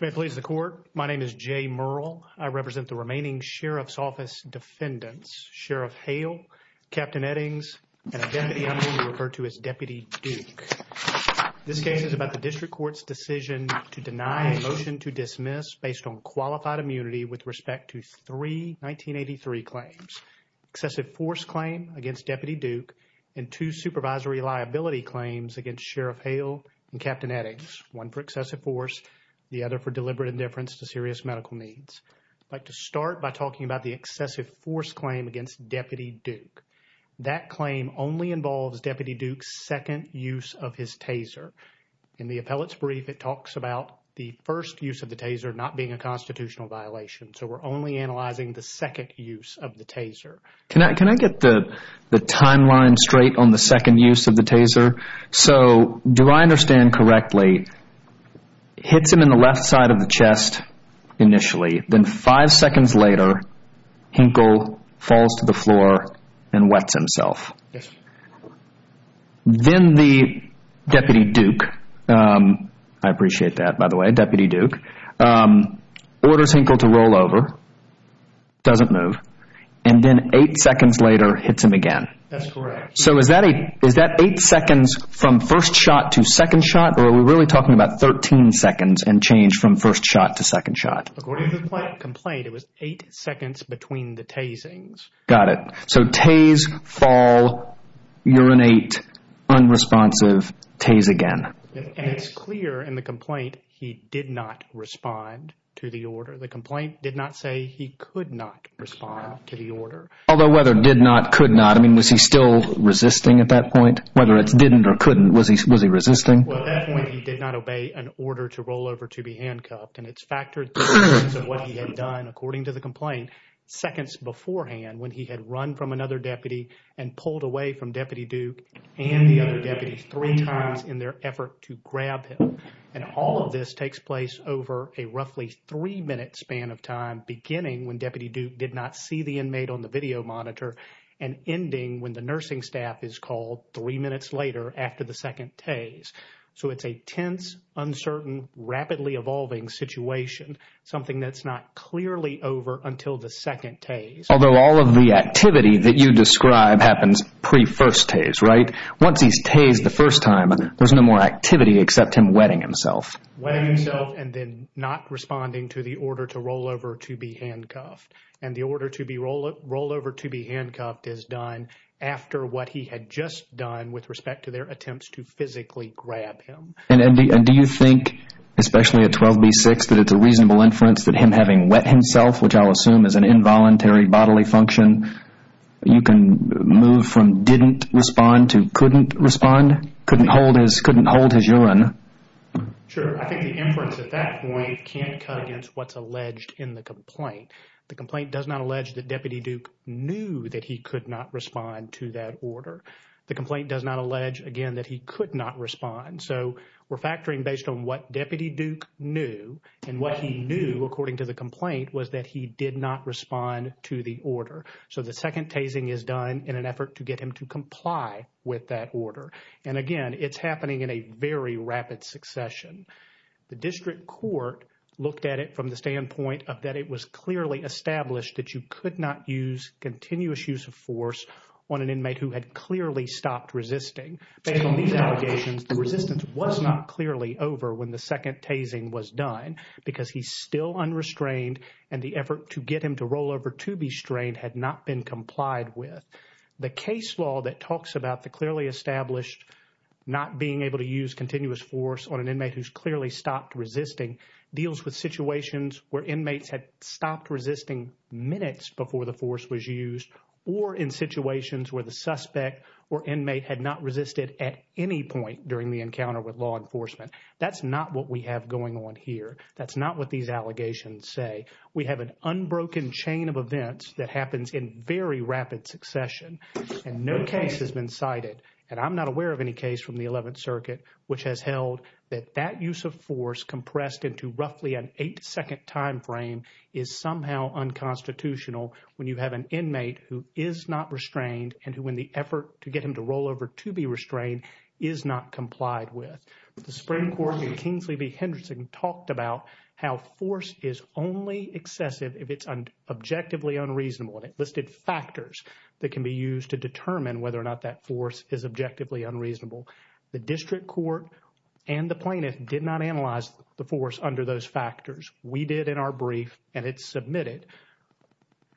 May it please the court. My name is Jay Murrell. I represent the remaining sheriff's office defendants, Sheriff Hale, Captain Eddings, and a deputy I'm going to refer to as Deputy Duke. This case is about the district court's decision to deny a motion to dismiss based on qualified immunity with respect to three 1983 claims. Excessive force claim against Deputy Duke and two supervisory liability claims against Sheriff Hale and Captain Eddings. One for other for deliberate indifference to serious medical needs. I'd like to start by talking about the excessive force claim against Deputy Duke. That claim only involves Deputy Duke's second use of his taser. In the appellate's brief it talks about the first use of the taser not being a constitutional violation. So we're only analyzing the second use of the taser. Can I get the timeline straight on the second use of the taser? So do I understand correctly it hits him in the left side of the chest initially then five seconds later Hinkle falls to the floor and wets himself. Then the Deputy Duke, I appreciate that by the way, Deputy Duke orders Hinkle to roll over, doesn't move, and then eight seconds later hits him again. That's correct. So is that eight seconds from first shot to second shot or are we really talking about 13 seconds and change from first shot to second shot? According to the complaint it was eight seconds between the tasings. Got it. So tase, fall, urinate, unresponsive, tase again. And it's clear in the complaint he did not respond to the order. The complaint did not say he could not respond to the order. Although whether did not, could not, I mean was he still resisting at that point? Whether it's didn't or couldn't, was he resisting? Well at that point he did not obey an order to roll over to be handcuffed and it's factored to what he had done according to the complaint seconds beforehand when he had run from another deputy and pulled away from Deputy Duke and the other deputy three times in their effort to grab him. And all of this takes place over a roughly three minute span of time beginning when Deputy Duke did not see the inmate on the video monitor and ending when the nursing staff is called three minutes later after the second tase. So it's a tense, uncertain, rapidly evolving situation. Something that's not clearly over until the second tase. Although all of the activity that you describe happens pre-first tase, right? Once he's tased the first time there's no more activity except him wetting himself. Wetting himself and then not responding to the order to roll over to be handcuffed. And the order to be rolled roll over to be handcuffed is done after what he had just done with respect to their attempts to physically grab him. And do you think especially at 12b6 that it's a reasonable inference that him having wet himself, which I'll assume is an involuntary bodily function, you can move from didn't respond to couldn't respond? Couldn't hold his, couldn't hold his Sure. I think the inference at that point can't cut against what's alleged in the complaint. The complaint does not allege that Deputy Duke knew that he could not respond to that order. The complaint does not allege again that he could not respond. So we're factoring based on what Deputy Duke knew and what he knew according to the complaint was that he did not respond to the order. So the second tasing is done in an effort to get him to comply with that order. And again, it's happening in a very rapid succession. The district court looked at it from the standpoint of that it was clearly established that you could not use continuous use of force on an inmate who had clearly stopped resisting. Based on these allegations, the resistance was not clearly over when the second tasing was done because he's still unrestrained and the effort to get him to roll over to be strained had not been complied with. The case law that talks about the clearly established not being able to use continuous force on an inmate who's clearly stopped resisting deals with situations where inmates had stopped resisting minutes before the force was used or in situations where the suspect or inmate had not resisted at any point during the encounter with law enforcement. That's not what we have going on here. That's not what these allegations say. We have an unbroken chain of events that happens in very rapid succession and no case has been cited and I'm not aware of any case from the 11th Circuit which has held that that use of force compressed into roughly an eight second time frame is somehow unconstitutional when you have an inmate who is not restrained and who in the effort to get him to roll over to be restrained is not complied with. The Supreme Court in Kingsley v. Henderson talked about how force is only excessive if it's objectively unreasonable and it listed factors that can be used to determine whether or not that force is objectively unreasonable. The district court and the plaintiff did not analyze the force under those factors. We did in our brief and it's submitted.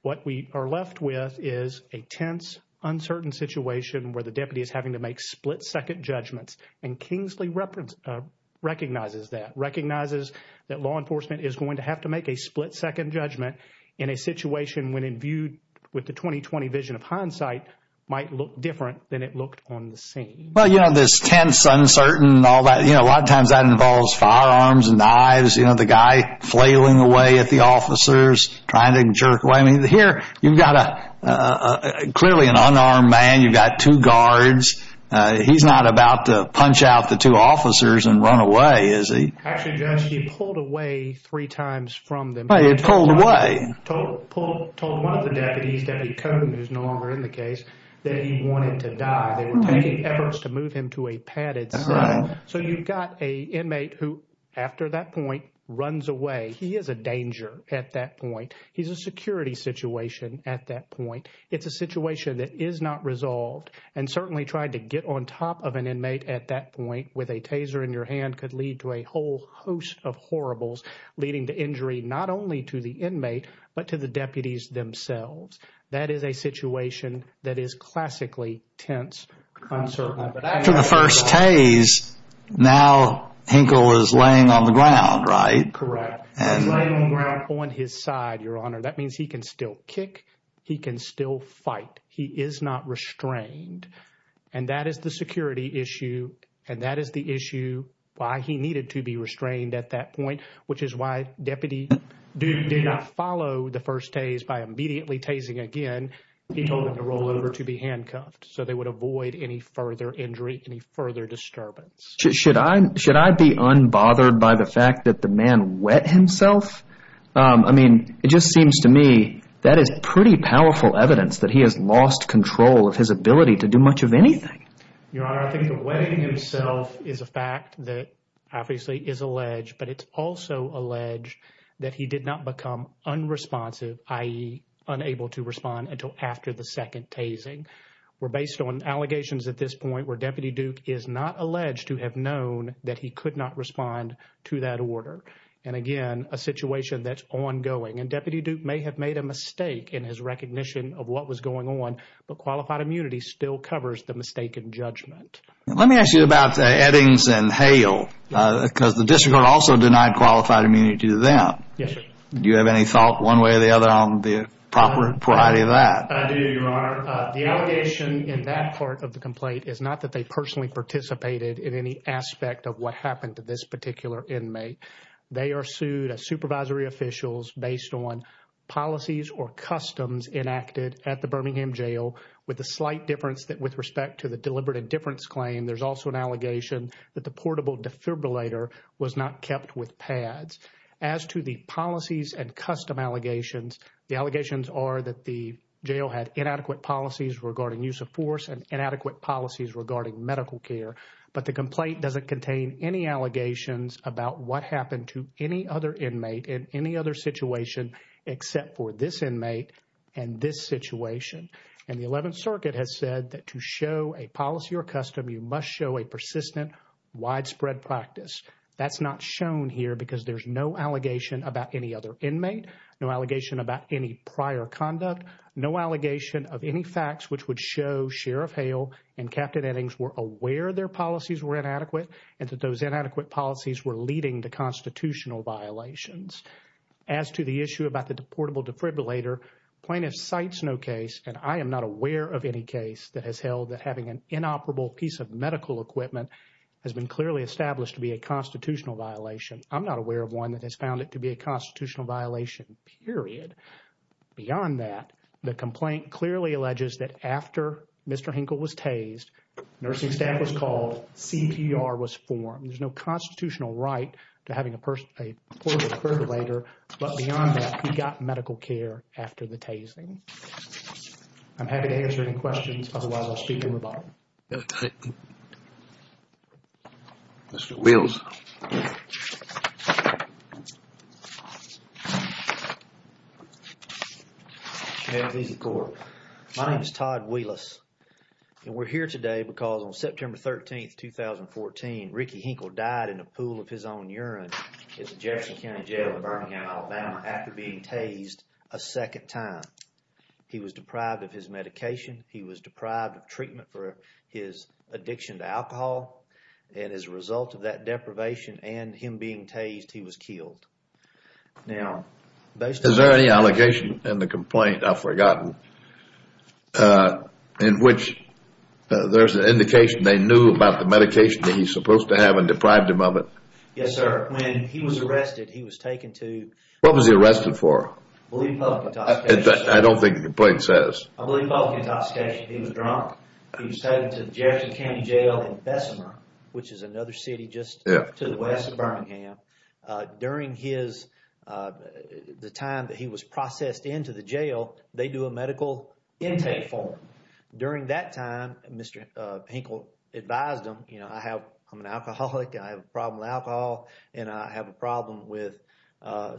What we are left with is a tense uncertain situation where the deputy is having to make split-second judgments and Kingsley recognizes that. Recognizes that law enforcement is going to have to make a split-second judgment in a situation when imbued with the 2020 vision of hindsight might look different than it looked on the scene. Well you know this tense uncertain all that you know a lot of times that involves firearms and knives you know the guy flailing away at the officers trying to jerk away I mean here you've got a clearly an unarmed man you've got two guards he's not about to punch out the two told told one of the deputies deputy Cohen who's no longer in the case that he wanted to die they were making efforts to move him to a padded cell so you've got a inmate who after that point runs away he is a danger at that point he's a security situation at that point it's a situation that is not resolved and certainly trying to get on top of an inmate at that point with a taser in your but to the deputies themselves that is a situation that is classically tense after the first tase now Hinkle is laying on the ground right correct on his side your honor that means he can still kick he can still fight he is not restrained and that is the security issue and that is the issue why he needed to be restrained at that point which is why deputy Duke did not follow the first tase by immediately tasing again he told him to roll over to be handcuffed so they would avoid any further injury any further disturbance should I should I be unbothered by the fact that the man wet himself I mean it just seems to me that is pretty powerful evidence that he has lost control of his ability to do much of anything your honor alleged that he did not become unresponsive i.e. unable to respond until after the second tasing we're based on allegations at this point where deputy Duke is not alleged to have known that he could not respond to that order and again a situation that's ongoing and deputy Duke may have made a mistake in his recognition of what was going on but qualified immunity still covers the mistaken judgment let me ask you about the Eddings and Hale because the district also denied qualified immunity to them yes do you have any thought one way or the other on the proper variety of that I do your honor the allegation in that part of the complaint is not that they personally participated in any aspect of what happened to this particular inmate they are sued as supervisory officials based on policies or customs enacted at the Birmingham jail with a slight difference that with respect to the deliberate indifference claim there's also an allegation that the portable defibrillator was not kept with pads as to the policies and custom allegations the allegations are that the jail had inadequate policies regarding use of force and inadequate policies regarding medical care but the complaint doesn't contain any allegations about what happened to any other inmate in any other situation except for this inmate and this situation and the 11th circuit has said that to show a policy or custom you must show a persistent widespread practice that's not shown here because there's no allegation about any other inmate no allegation about any prior conduct no allegation of any facts which would show Sheriff Hale and Captain Eddings were aware their policies were inadequate and that those inadequate policies were leading to constitutional violations as to the issue about the deportable defibrillator plaintiff cites no case and I am not aware of any case that has held that having an inoperable piece of medical equipment has been clearly established to be a constitutional violation I'm not aware of one that has found it to be a constitutional violation period beyond that the complaint clearly alleges that after Mr. Hinkle was tased nursing staff was called CPR was formed there's no constitutional right to having a person a poor defibrillator but beyond that he got medical care after the tasing I'm happy to answer any questions otherwise I'll speak in rebuttal Mr. Wills My name is Todd Willis and we're here today because on September 13, 2014 Ricky Hinkle died in a pool of his own urine at the Jefferson County Jail in Birmingham, Alabama after being tased a second time he was deprived of his medication he was deprived of treatment for his addiction to alcohol and as a result of that deprivation and him being tased he was killed now is there any allegation in the complaint I've forgotten in which there's an indication they knew about the medication that he's supposed to have and deprived him of it yes sir when he was arrested he was taken to what was he arrested for I don't think the complaint says I believe public intoxication he was drunk he was taken to Jefferson County Jail in Bessemer which is another city just to the west of Birmingham during his the time that he was processed into the jail they do a medical intake form during that time Mr. Hinkle advised him you know I have I'm an alcoholic I have a problem with alcohol and I have a problem with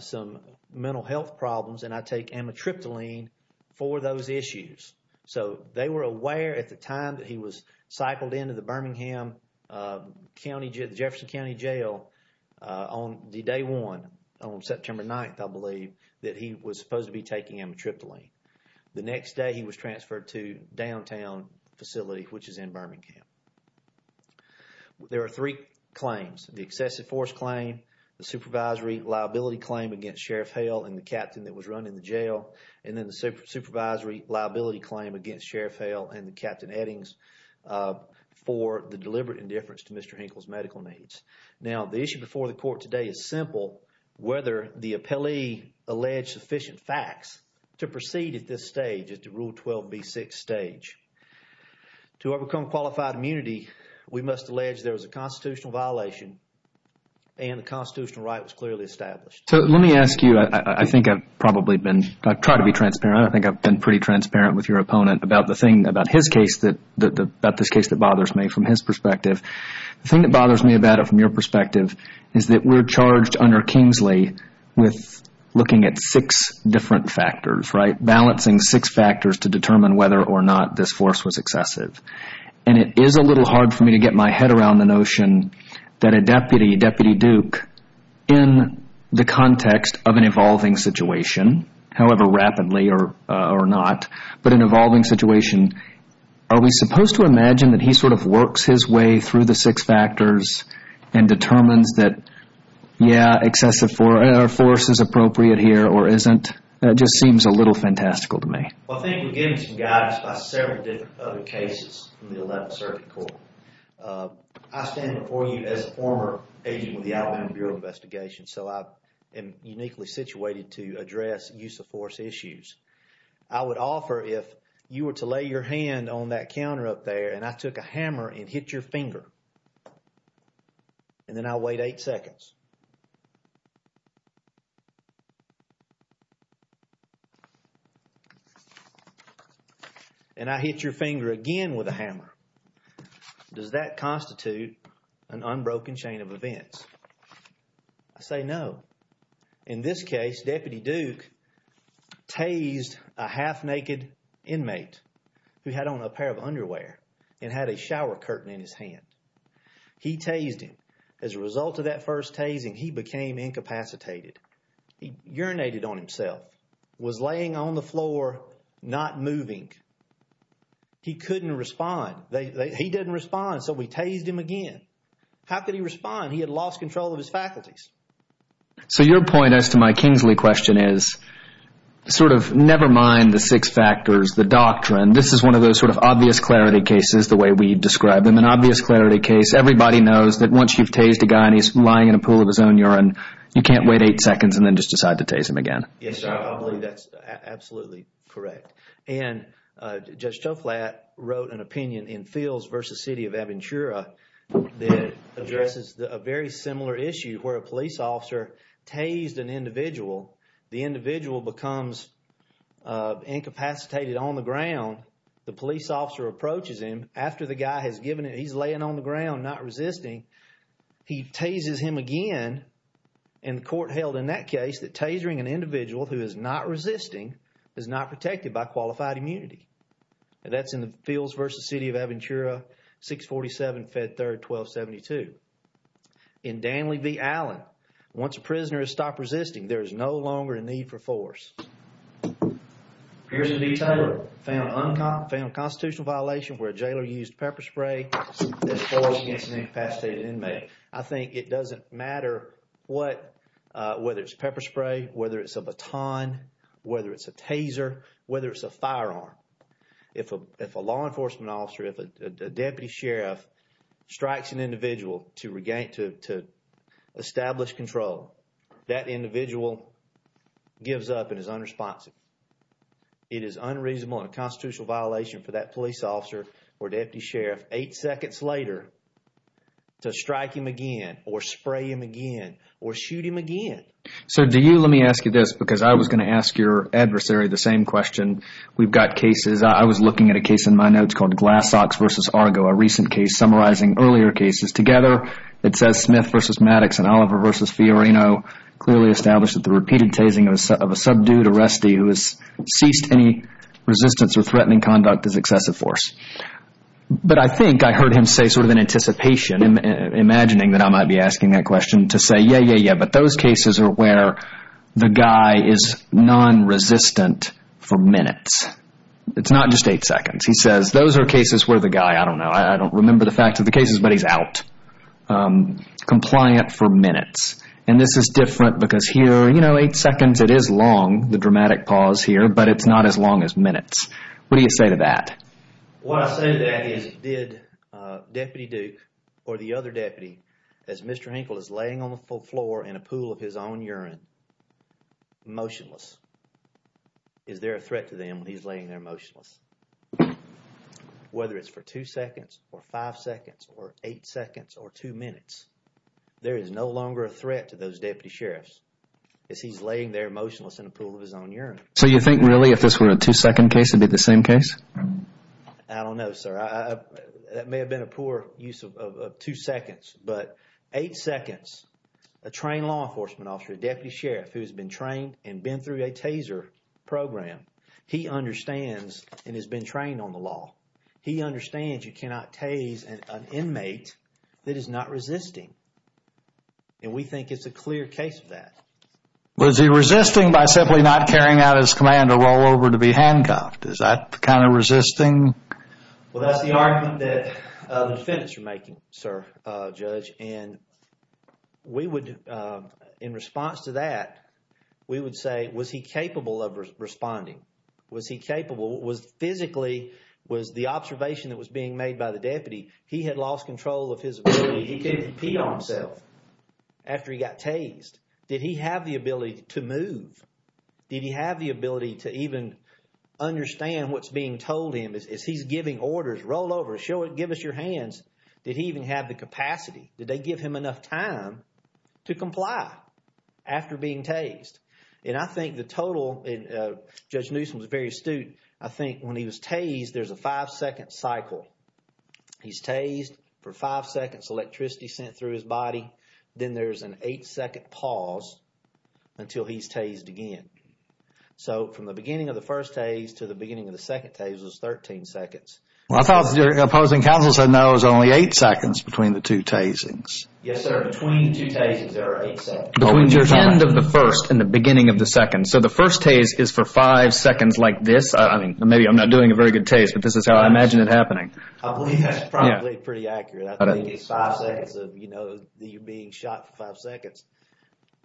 some mental health problems and I take amitriptyline for those issues so they were aware at the time that he was cycled into the Birmingham County Jefferson County Jail on the day one on September 9th I believe that he was supposed to be taking amitriptyline the next day he was transferred to downtown facility which is in Birmingham there are three claims the excessive force claim the supervisory liability claim against Sheriff Hale and the captain that was run in the jail and then the supervisory liability claim against Sheriff Hale and Captain Eddings for the deliberate indifference to Mr. Hinkle's medical needs now the issue before the court today is simple whether the appellee alleged sufficient facts to proceed at this stage at the rule 12b6 stage to overcome qualified immunity we must allege there was a constitutional violation and the constitutional right was clearly established so let me ask you I think I've probably been I try to be transparent I think I've been pretty transparent with your opponent about the thing about his case that the about this case that bothers me from his perspective the thing that bothers me about it from your perspective is that we're charged under Kingsley with looking at six different factors right balancing six factors to determine whether or not this force was excessive and it is a little hard for me to get my head around the notion that a deputy deputy duke in the context of an evolving situation however rapidly or or not but an evolving situation are we supposed to imagine that he sort of works his way through the six factors and determines that yeah excessive for air force is appropriate here or isn't that just seems a little fantastical to me I think we're getting some guidance by several different other cases in the 11th circuit court I stand before you as a former agent with the Alabama Bureau of Investigation so I am uniquely situated to address use of force issues I would offer if you were to lay your hand on that counter up there and I took a hammer and hit your finger and then I wait eight seconds and I hit your finger again with a hammer does that constitute an unbroken chain of events I say no in this case deputy duke tased a half-naked inmate who had on a pair of underwear and had a shower curtain in his hand he tased him as a result of that first tasing he became incapacitated he urinated on himself was laying on the floor not moving he couldn't respond they he didn't respond so we tased him again how could he respond he had lost control of his faculties so your point as to my Kingsley question is sort of never mind the six factors the doctrine this is one of those sort of obvious clarity cases the way we describe them an obvious clarity case everybody knows that once you've tased a guy and he's lying in a pool of his own urine you can't wait eight seconds and then just decide to tase him again yes I believe that's absolutely correct and Judge Toflat wrote an opinion in Fields versus City of Aventura that addresses a very similar issue where a police officer tased an individual the individual becomes incapacitated on the ground the police officer approaches him after the guy has given it he's laying on the ground not resisting he tases him again and the court held in that case that tasering an individual who is not resisting is not protected by qualified immunity and that's in the Fields versus City of Aventura 647 Fed 3rd 1272 in Danley v Allen once a prisoner has stopped resisting there is no longer a need for force here's the detail found unconfirmed constitutional violation where a jailer used pepper spray against an incapacitated inmate I think it doesn't matter what uh whether it's pepper spray whether it's a baton whether it's a taser whether it's a firearm if a if a law enforcement officer if a deputy sheriff strikes an individual to regain to establish control that individual gives up and is unresponsive it is unreasonable and a constitutional violation for that police officer or deputy sheriff eight seconds later to strike him again or spray him again or shoot him again so do you let me ask you this because I was going to ask your adversary the same question we've got cases I was looking at a case in my notes called glass socks versus Argo a recent case summarizing earlier cases together it says Smith versus Maddox and Oliver versus Fiorino clearly established that the repeated tasing of a subdued arrestee who has ceased any resistance or threatening conduct is excessive force but I think I heard him say sort of in anticipation imagining that I might be asking that question to say yeah yeah yeah but those cases are where the guy is non-resistant for minutes it's not just eight seconds he says those are cases where the guy I don't know I don't remember the facts of the cases but he's out um compliant for minutes and this is different because here you know eight seconds it is long the dramatic pause here but it's not as long as minutes what do you say to that what I say to that is did uh Deputy Duke or the other deputy as Mr. Hinkle is laying on the floor in a pool of his own urine motionless is there a threat to them when he's laying there motionless whether it's for two seconds or five seconds or eight seconds or two minutes there is no longer a threat to those deputy sheriffs as he's laying there motionless in a pool of his own urine so you think really if this were a two second case would be the same case I don't know sir I that of two seconds but eight seconds a trained law enforcement officer a deputy sheriff who's been trained and been through a taser program he understands and has been trained on the law he understands you cannot tase an inmate that is not resisting and we think it's a clear case of that was he resisting by simply not carrying out his command to roll over to be handcuffed is that kind of resisting well that's the argument that the defendants are making sir uh judge and we would uh in response to that we would say was he capable of responding was he capable was physically was the observation that was being made by the deputy he had lost control of his ability he couldn't pee on himself after he got tased did he have the ability to move did he have the ability to even understand what's being told him as he's giving orders roll over show it give us your hands did he even have the capacity did they give him enough time to comply after being tased and I think the total in uh judge newsome was very astute I think when he was tased there's a five second cycle he's tased for five seconds electricity sent through his body then there's an eight second pause until he's tased again so from the beginning of the first tase to the beginning of the second tase was 13 seconds well I thought your opposing counsel said no it was only eight seconds between the two tasings yes sir between the two cases there are eight seconds between the end of the first and the beginning of the second so the first tase is for five seconds like this I mean maybe I'm not doing a very good taste but this is how I imagine it happening I believe that's probably pretty accurate I think five seconds of you know you're being shot for five seconds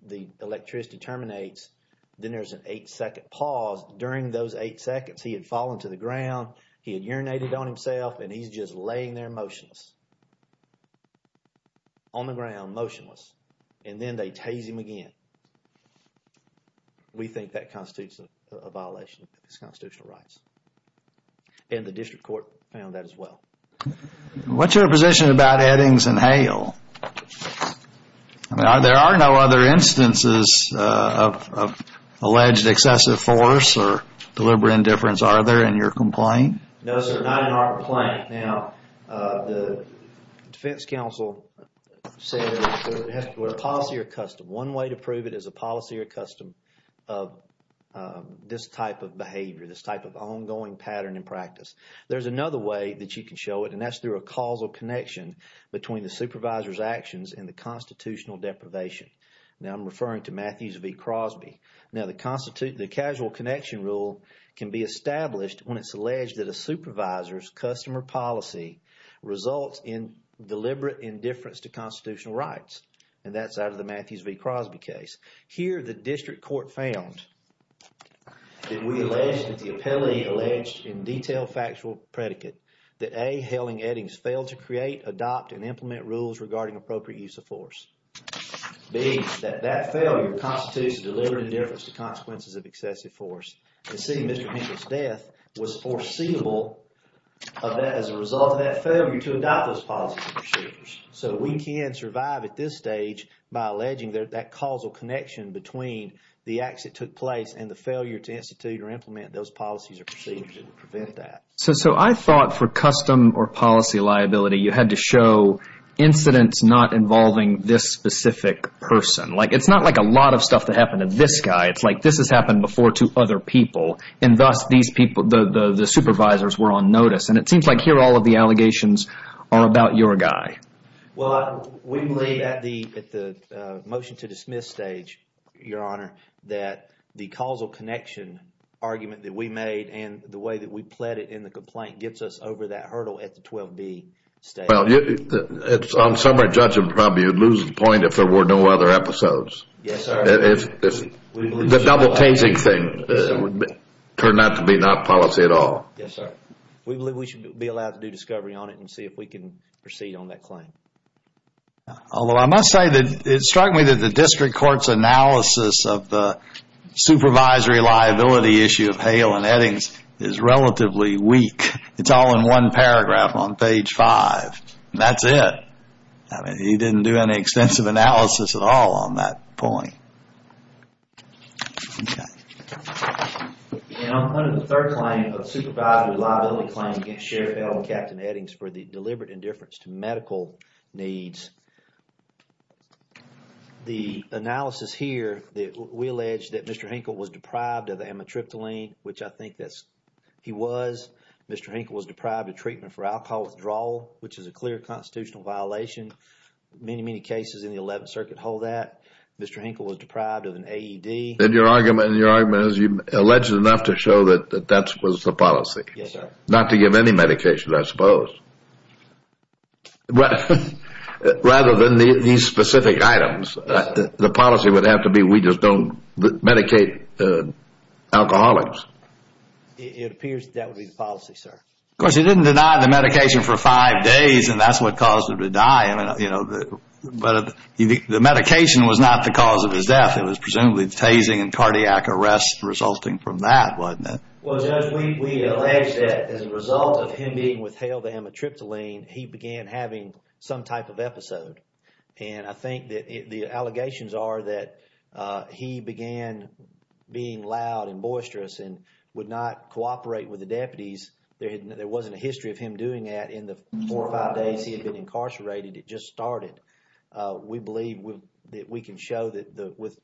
the electricity terminates then there's an eight second pause during those eight seconds he had fallen to the ground he had urinated on himself and he's just laying there motionless on the ground motionless and then they tase him again we think that constitutes a violation of his constitutional rights and the district court found that as well what's your position about Eddings and Hale I mean are there are no other instances of alleged excessive force or deliberate indifference are there in your complaint no sir not in our complaint now the defense counsel said policy or custom one way to prove it is a policy or custom of this type of behavior this type of ongoing pattern in practice there's another way that you can show it and that's through a causal connection between the supervisor's actions and the constitutional deprivation now I'm referring to Matthews v Crosby now the constitute the casual connection rule can be established when it's alleged that a supervisor's customer policy results in deliberate indifference to constitutional rights and that's out of the Matthews v Crosby case here the district court found that we alleged that the appellee alleged in detailed factual predicate that a hailing eddings failed to create adopt and implement rules regarding appropriate use of force being that that failure constitutes a deliberate indifference to consequences of excessive force and seeing Mr. Hinkle's death was foreseeable of that as a result of that failure to adopt those policy procedures so we can survive at this stage by alleging that that causal connection between the acts that took place and the failure to institute or implement those policies or procedures to prevent that so so I thought for custom or policy liability you had to show incidents not involving this specific person like it's not like a lot of stuff that happened to this guy it's like this has happened before to other people and thus these people the the supervisors were on notice and it seems like here all of the allegations are about your guy well we believe at the at the motion to dismiss stage your honor that the causal connection argument that we made and the way that we pled it in the complaint gets us over that hurdle at the 12b stage well you it's on summary judgment probably you'd lose the point if there were no other episodes yes sir if the double tasing thing would turn out to be not policy at all yes sir we believe we should be allowed to do discovery on it and see if we can proceed on that claim although I must say that it struck me that the district court's analysis of the supervisory liability issue of Hale and Eddings is relatively weak it's all in one paragraph on page five that's it I mean he didn't do any extensive analysis at all on that point okay and I'm under the third claim of supervisory liability claim against Sheriff Hale and Captain Eddings for the deliberate indifference to medical needs the analysis here that we allege that Mr. Hinkle was deprived of amitriptyline which I think that's he was Mr. Hinkle was deprived of treatment for alcohol withdrawal which is a clear constitutional violation many many cases in the 11th circuit hold that Mr. Hinkle was deprived of an AED and your argument your argument is you alleged enough to show that that that was the not to give any medication I suppose rather than these specific items the policy would have to be we just don't medicate uh alcoholics it appears that would be the policy sir of course he didn't deny the medication for five days and that's what caused him to die I mean you know the but the medication was not the cause of his death it was presumably the tasing and cardiac arrest resulting from that well judge we allege that as a result of him being withheld the amitriptyline he began having some type of episode and I think that the allegations are that uh he began being loud and boisterous and would not cooperate with the deputies there wasn't a history of him doing that in the four or five days he had been incarcerated it just started uh we believe with we can show that the with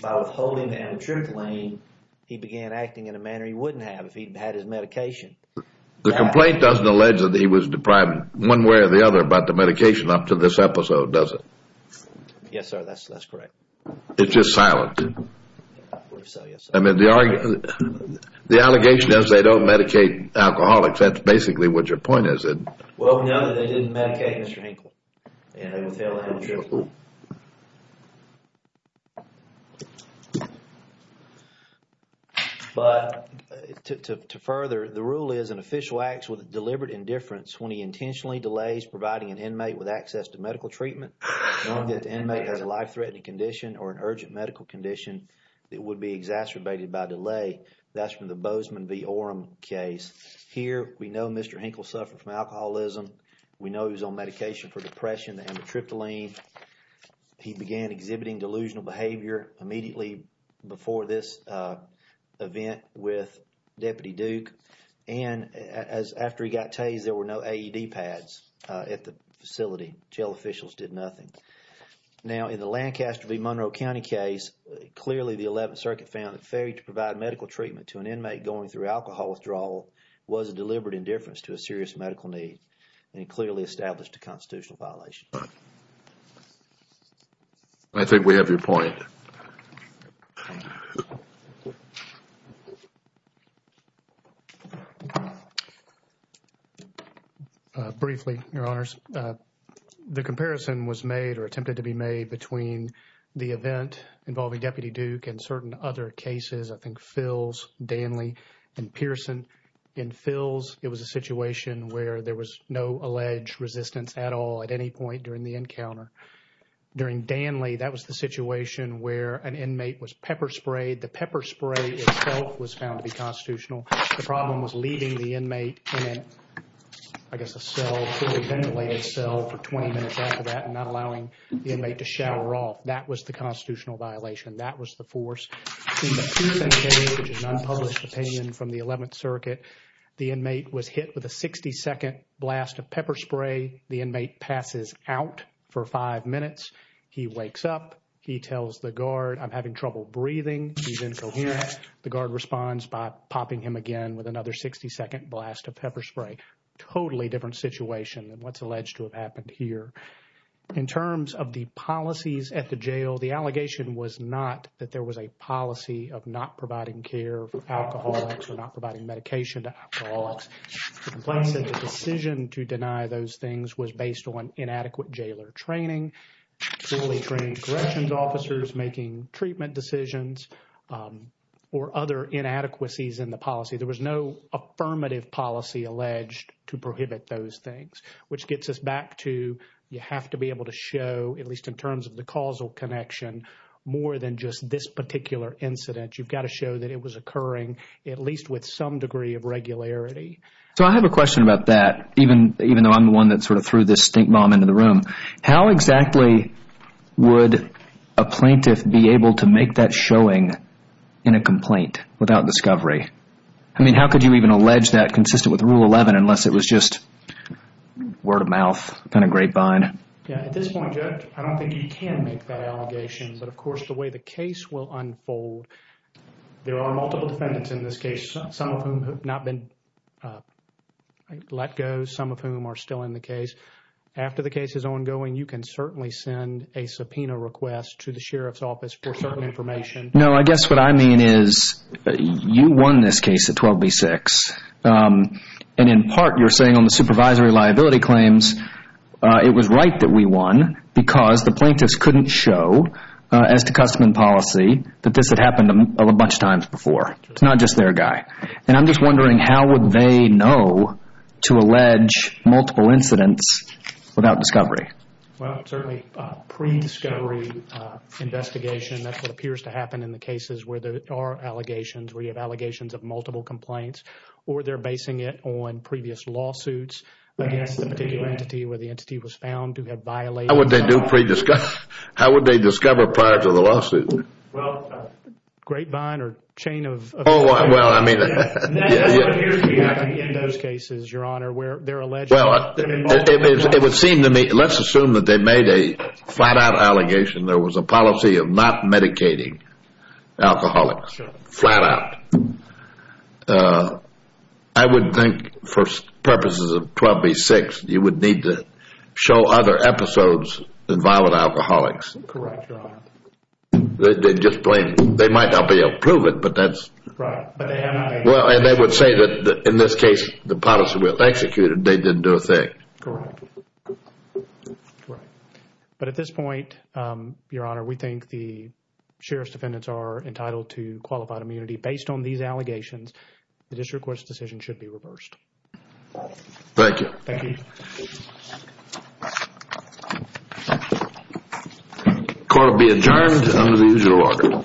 by withholding the amitriptyline he began acting in a manner he wouldn't have if he'd had his medication the complaint doesn't allege that he was deprived one way or the other about the medication up to this episode does it yes sir that's that's correct it's just silent I mean the argument the allegation is they don't medicate alcoholics that's basically what your point is it well no they didn't medicate Mr. Hinkle and they didn't but to further the rule is an official acts with deliberate indifference when he intentionally delays providing an inmate with access to medical treatment knowing that the inmate has a life-threatening condition or an urgent medical condition that would be exacerbated by delay that's from the Bozeman v Oram case here we know Mr. Hinkle suffered from alcoholism we know he was on medication for depression the amitriptyline he began exhibiting delusional behavior immediately before this event with Deputy Duke and as after he got tased there were no AED pads at the facility jail officials did nothing now in the Lancaster v Monroe County case clearly the 11th circuit found it fair to provide medical treatment to an inmate going through alcohol withdrawal was a deliberate indifference to a serious medical need and clearly established a constitutional violation I think we have your point briefly your honors the comparison was made or attempted to be made between the event involving Deputy Duke and certain other cases I think Phil's Danley and Pearson in Phil's it was a situation where there was no alleged resistance at all at any point during the encounter during Danley that was the situation where an inmate was pepper sprayed the pepper spray itself was found to be constitutional the problem was leaving the inmate in I guess a cell ventilated cell for 20 minutes after that and not allowing the inmate to shower off that was the constitutional violation that was the force which is an unpublished opinion from the 11th circuit the inmate was hit with a 60 second blast of pepper spray the inmate passes out for five minutes he wakes up he tells the guard I'm having trouble breathing he's incoherent the guard responds by popping him again with another 60 second blast of pepper spray totally different situation than what's alleged to have happened here in terms of the policies at the jail the allegation was not that there was a policy of not providing care for alcoholics or not providing medication to alcoholics the complaint said the decision to deny those things was based on inadequate jailer training poorly trained corrections officers making treatment decisions or other inadequacies in the policy there was no affirmative policy alleged to prohibit those things which gets us back to you have to be able to show at least in terms of the causal connection more than just this particular incident you've got to show that it was occurring at least with some degree of regularity so I have a question about that even even though I'm the one that sort of threw this stink bomb into the room how exactly would a plaintiff be able to make that showing in a complaint without discovery I mean how could you even allege that consistent with just word of mouth kind of grapevine yeah at this point I don't think you can make that allegation but of course the way the case will unfold there are multiple defendants in this case some of whom have not been let go some of whom are still in the case after the case is ongoing you can certainly send a subpoena request to the sheriff's office for certain information no I guess what I mean is you won this case at 12b6 and in part you're saying on the supervisory liability claims it was right that we won because the plaintiffs couldn't show as to custom and policy that this had happened a bunch of times before it's not just their guy and I'm just wondering how would they know to allege multiple incidents without discovery well certainly pre-discovery investigation that's what appears to happen in the cases where there are allegations where you have allegations of multiple complaints or they're basing it on previous lawsuits against the particular entity where the entity was found who had violated what they do pre-discuss how would they discover prior to the lawsuit well grapevine or chain of well I mean in those cases your honor where they're alleged well it would seem to me let's assume that they made a flat-out allegation there was a policy of not medicating alcoholics flat out I would think for purposes of 12b6 you would need to show other episodes than violent alcoholics correct your honor they just blame they might not be able to prove it but that's right well and they would say that in this case the policy was executed they didn't do a thing correct right but at this point your honor we think the sheriff's defendants are entitled to qualified immunity based on these allegations the district court's decision should be reversed thank you thank you court will be adjourned under the usual order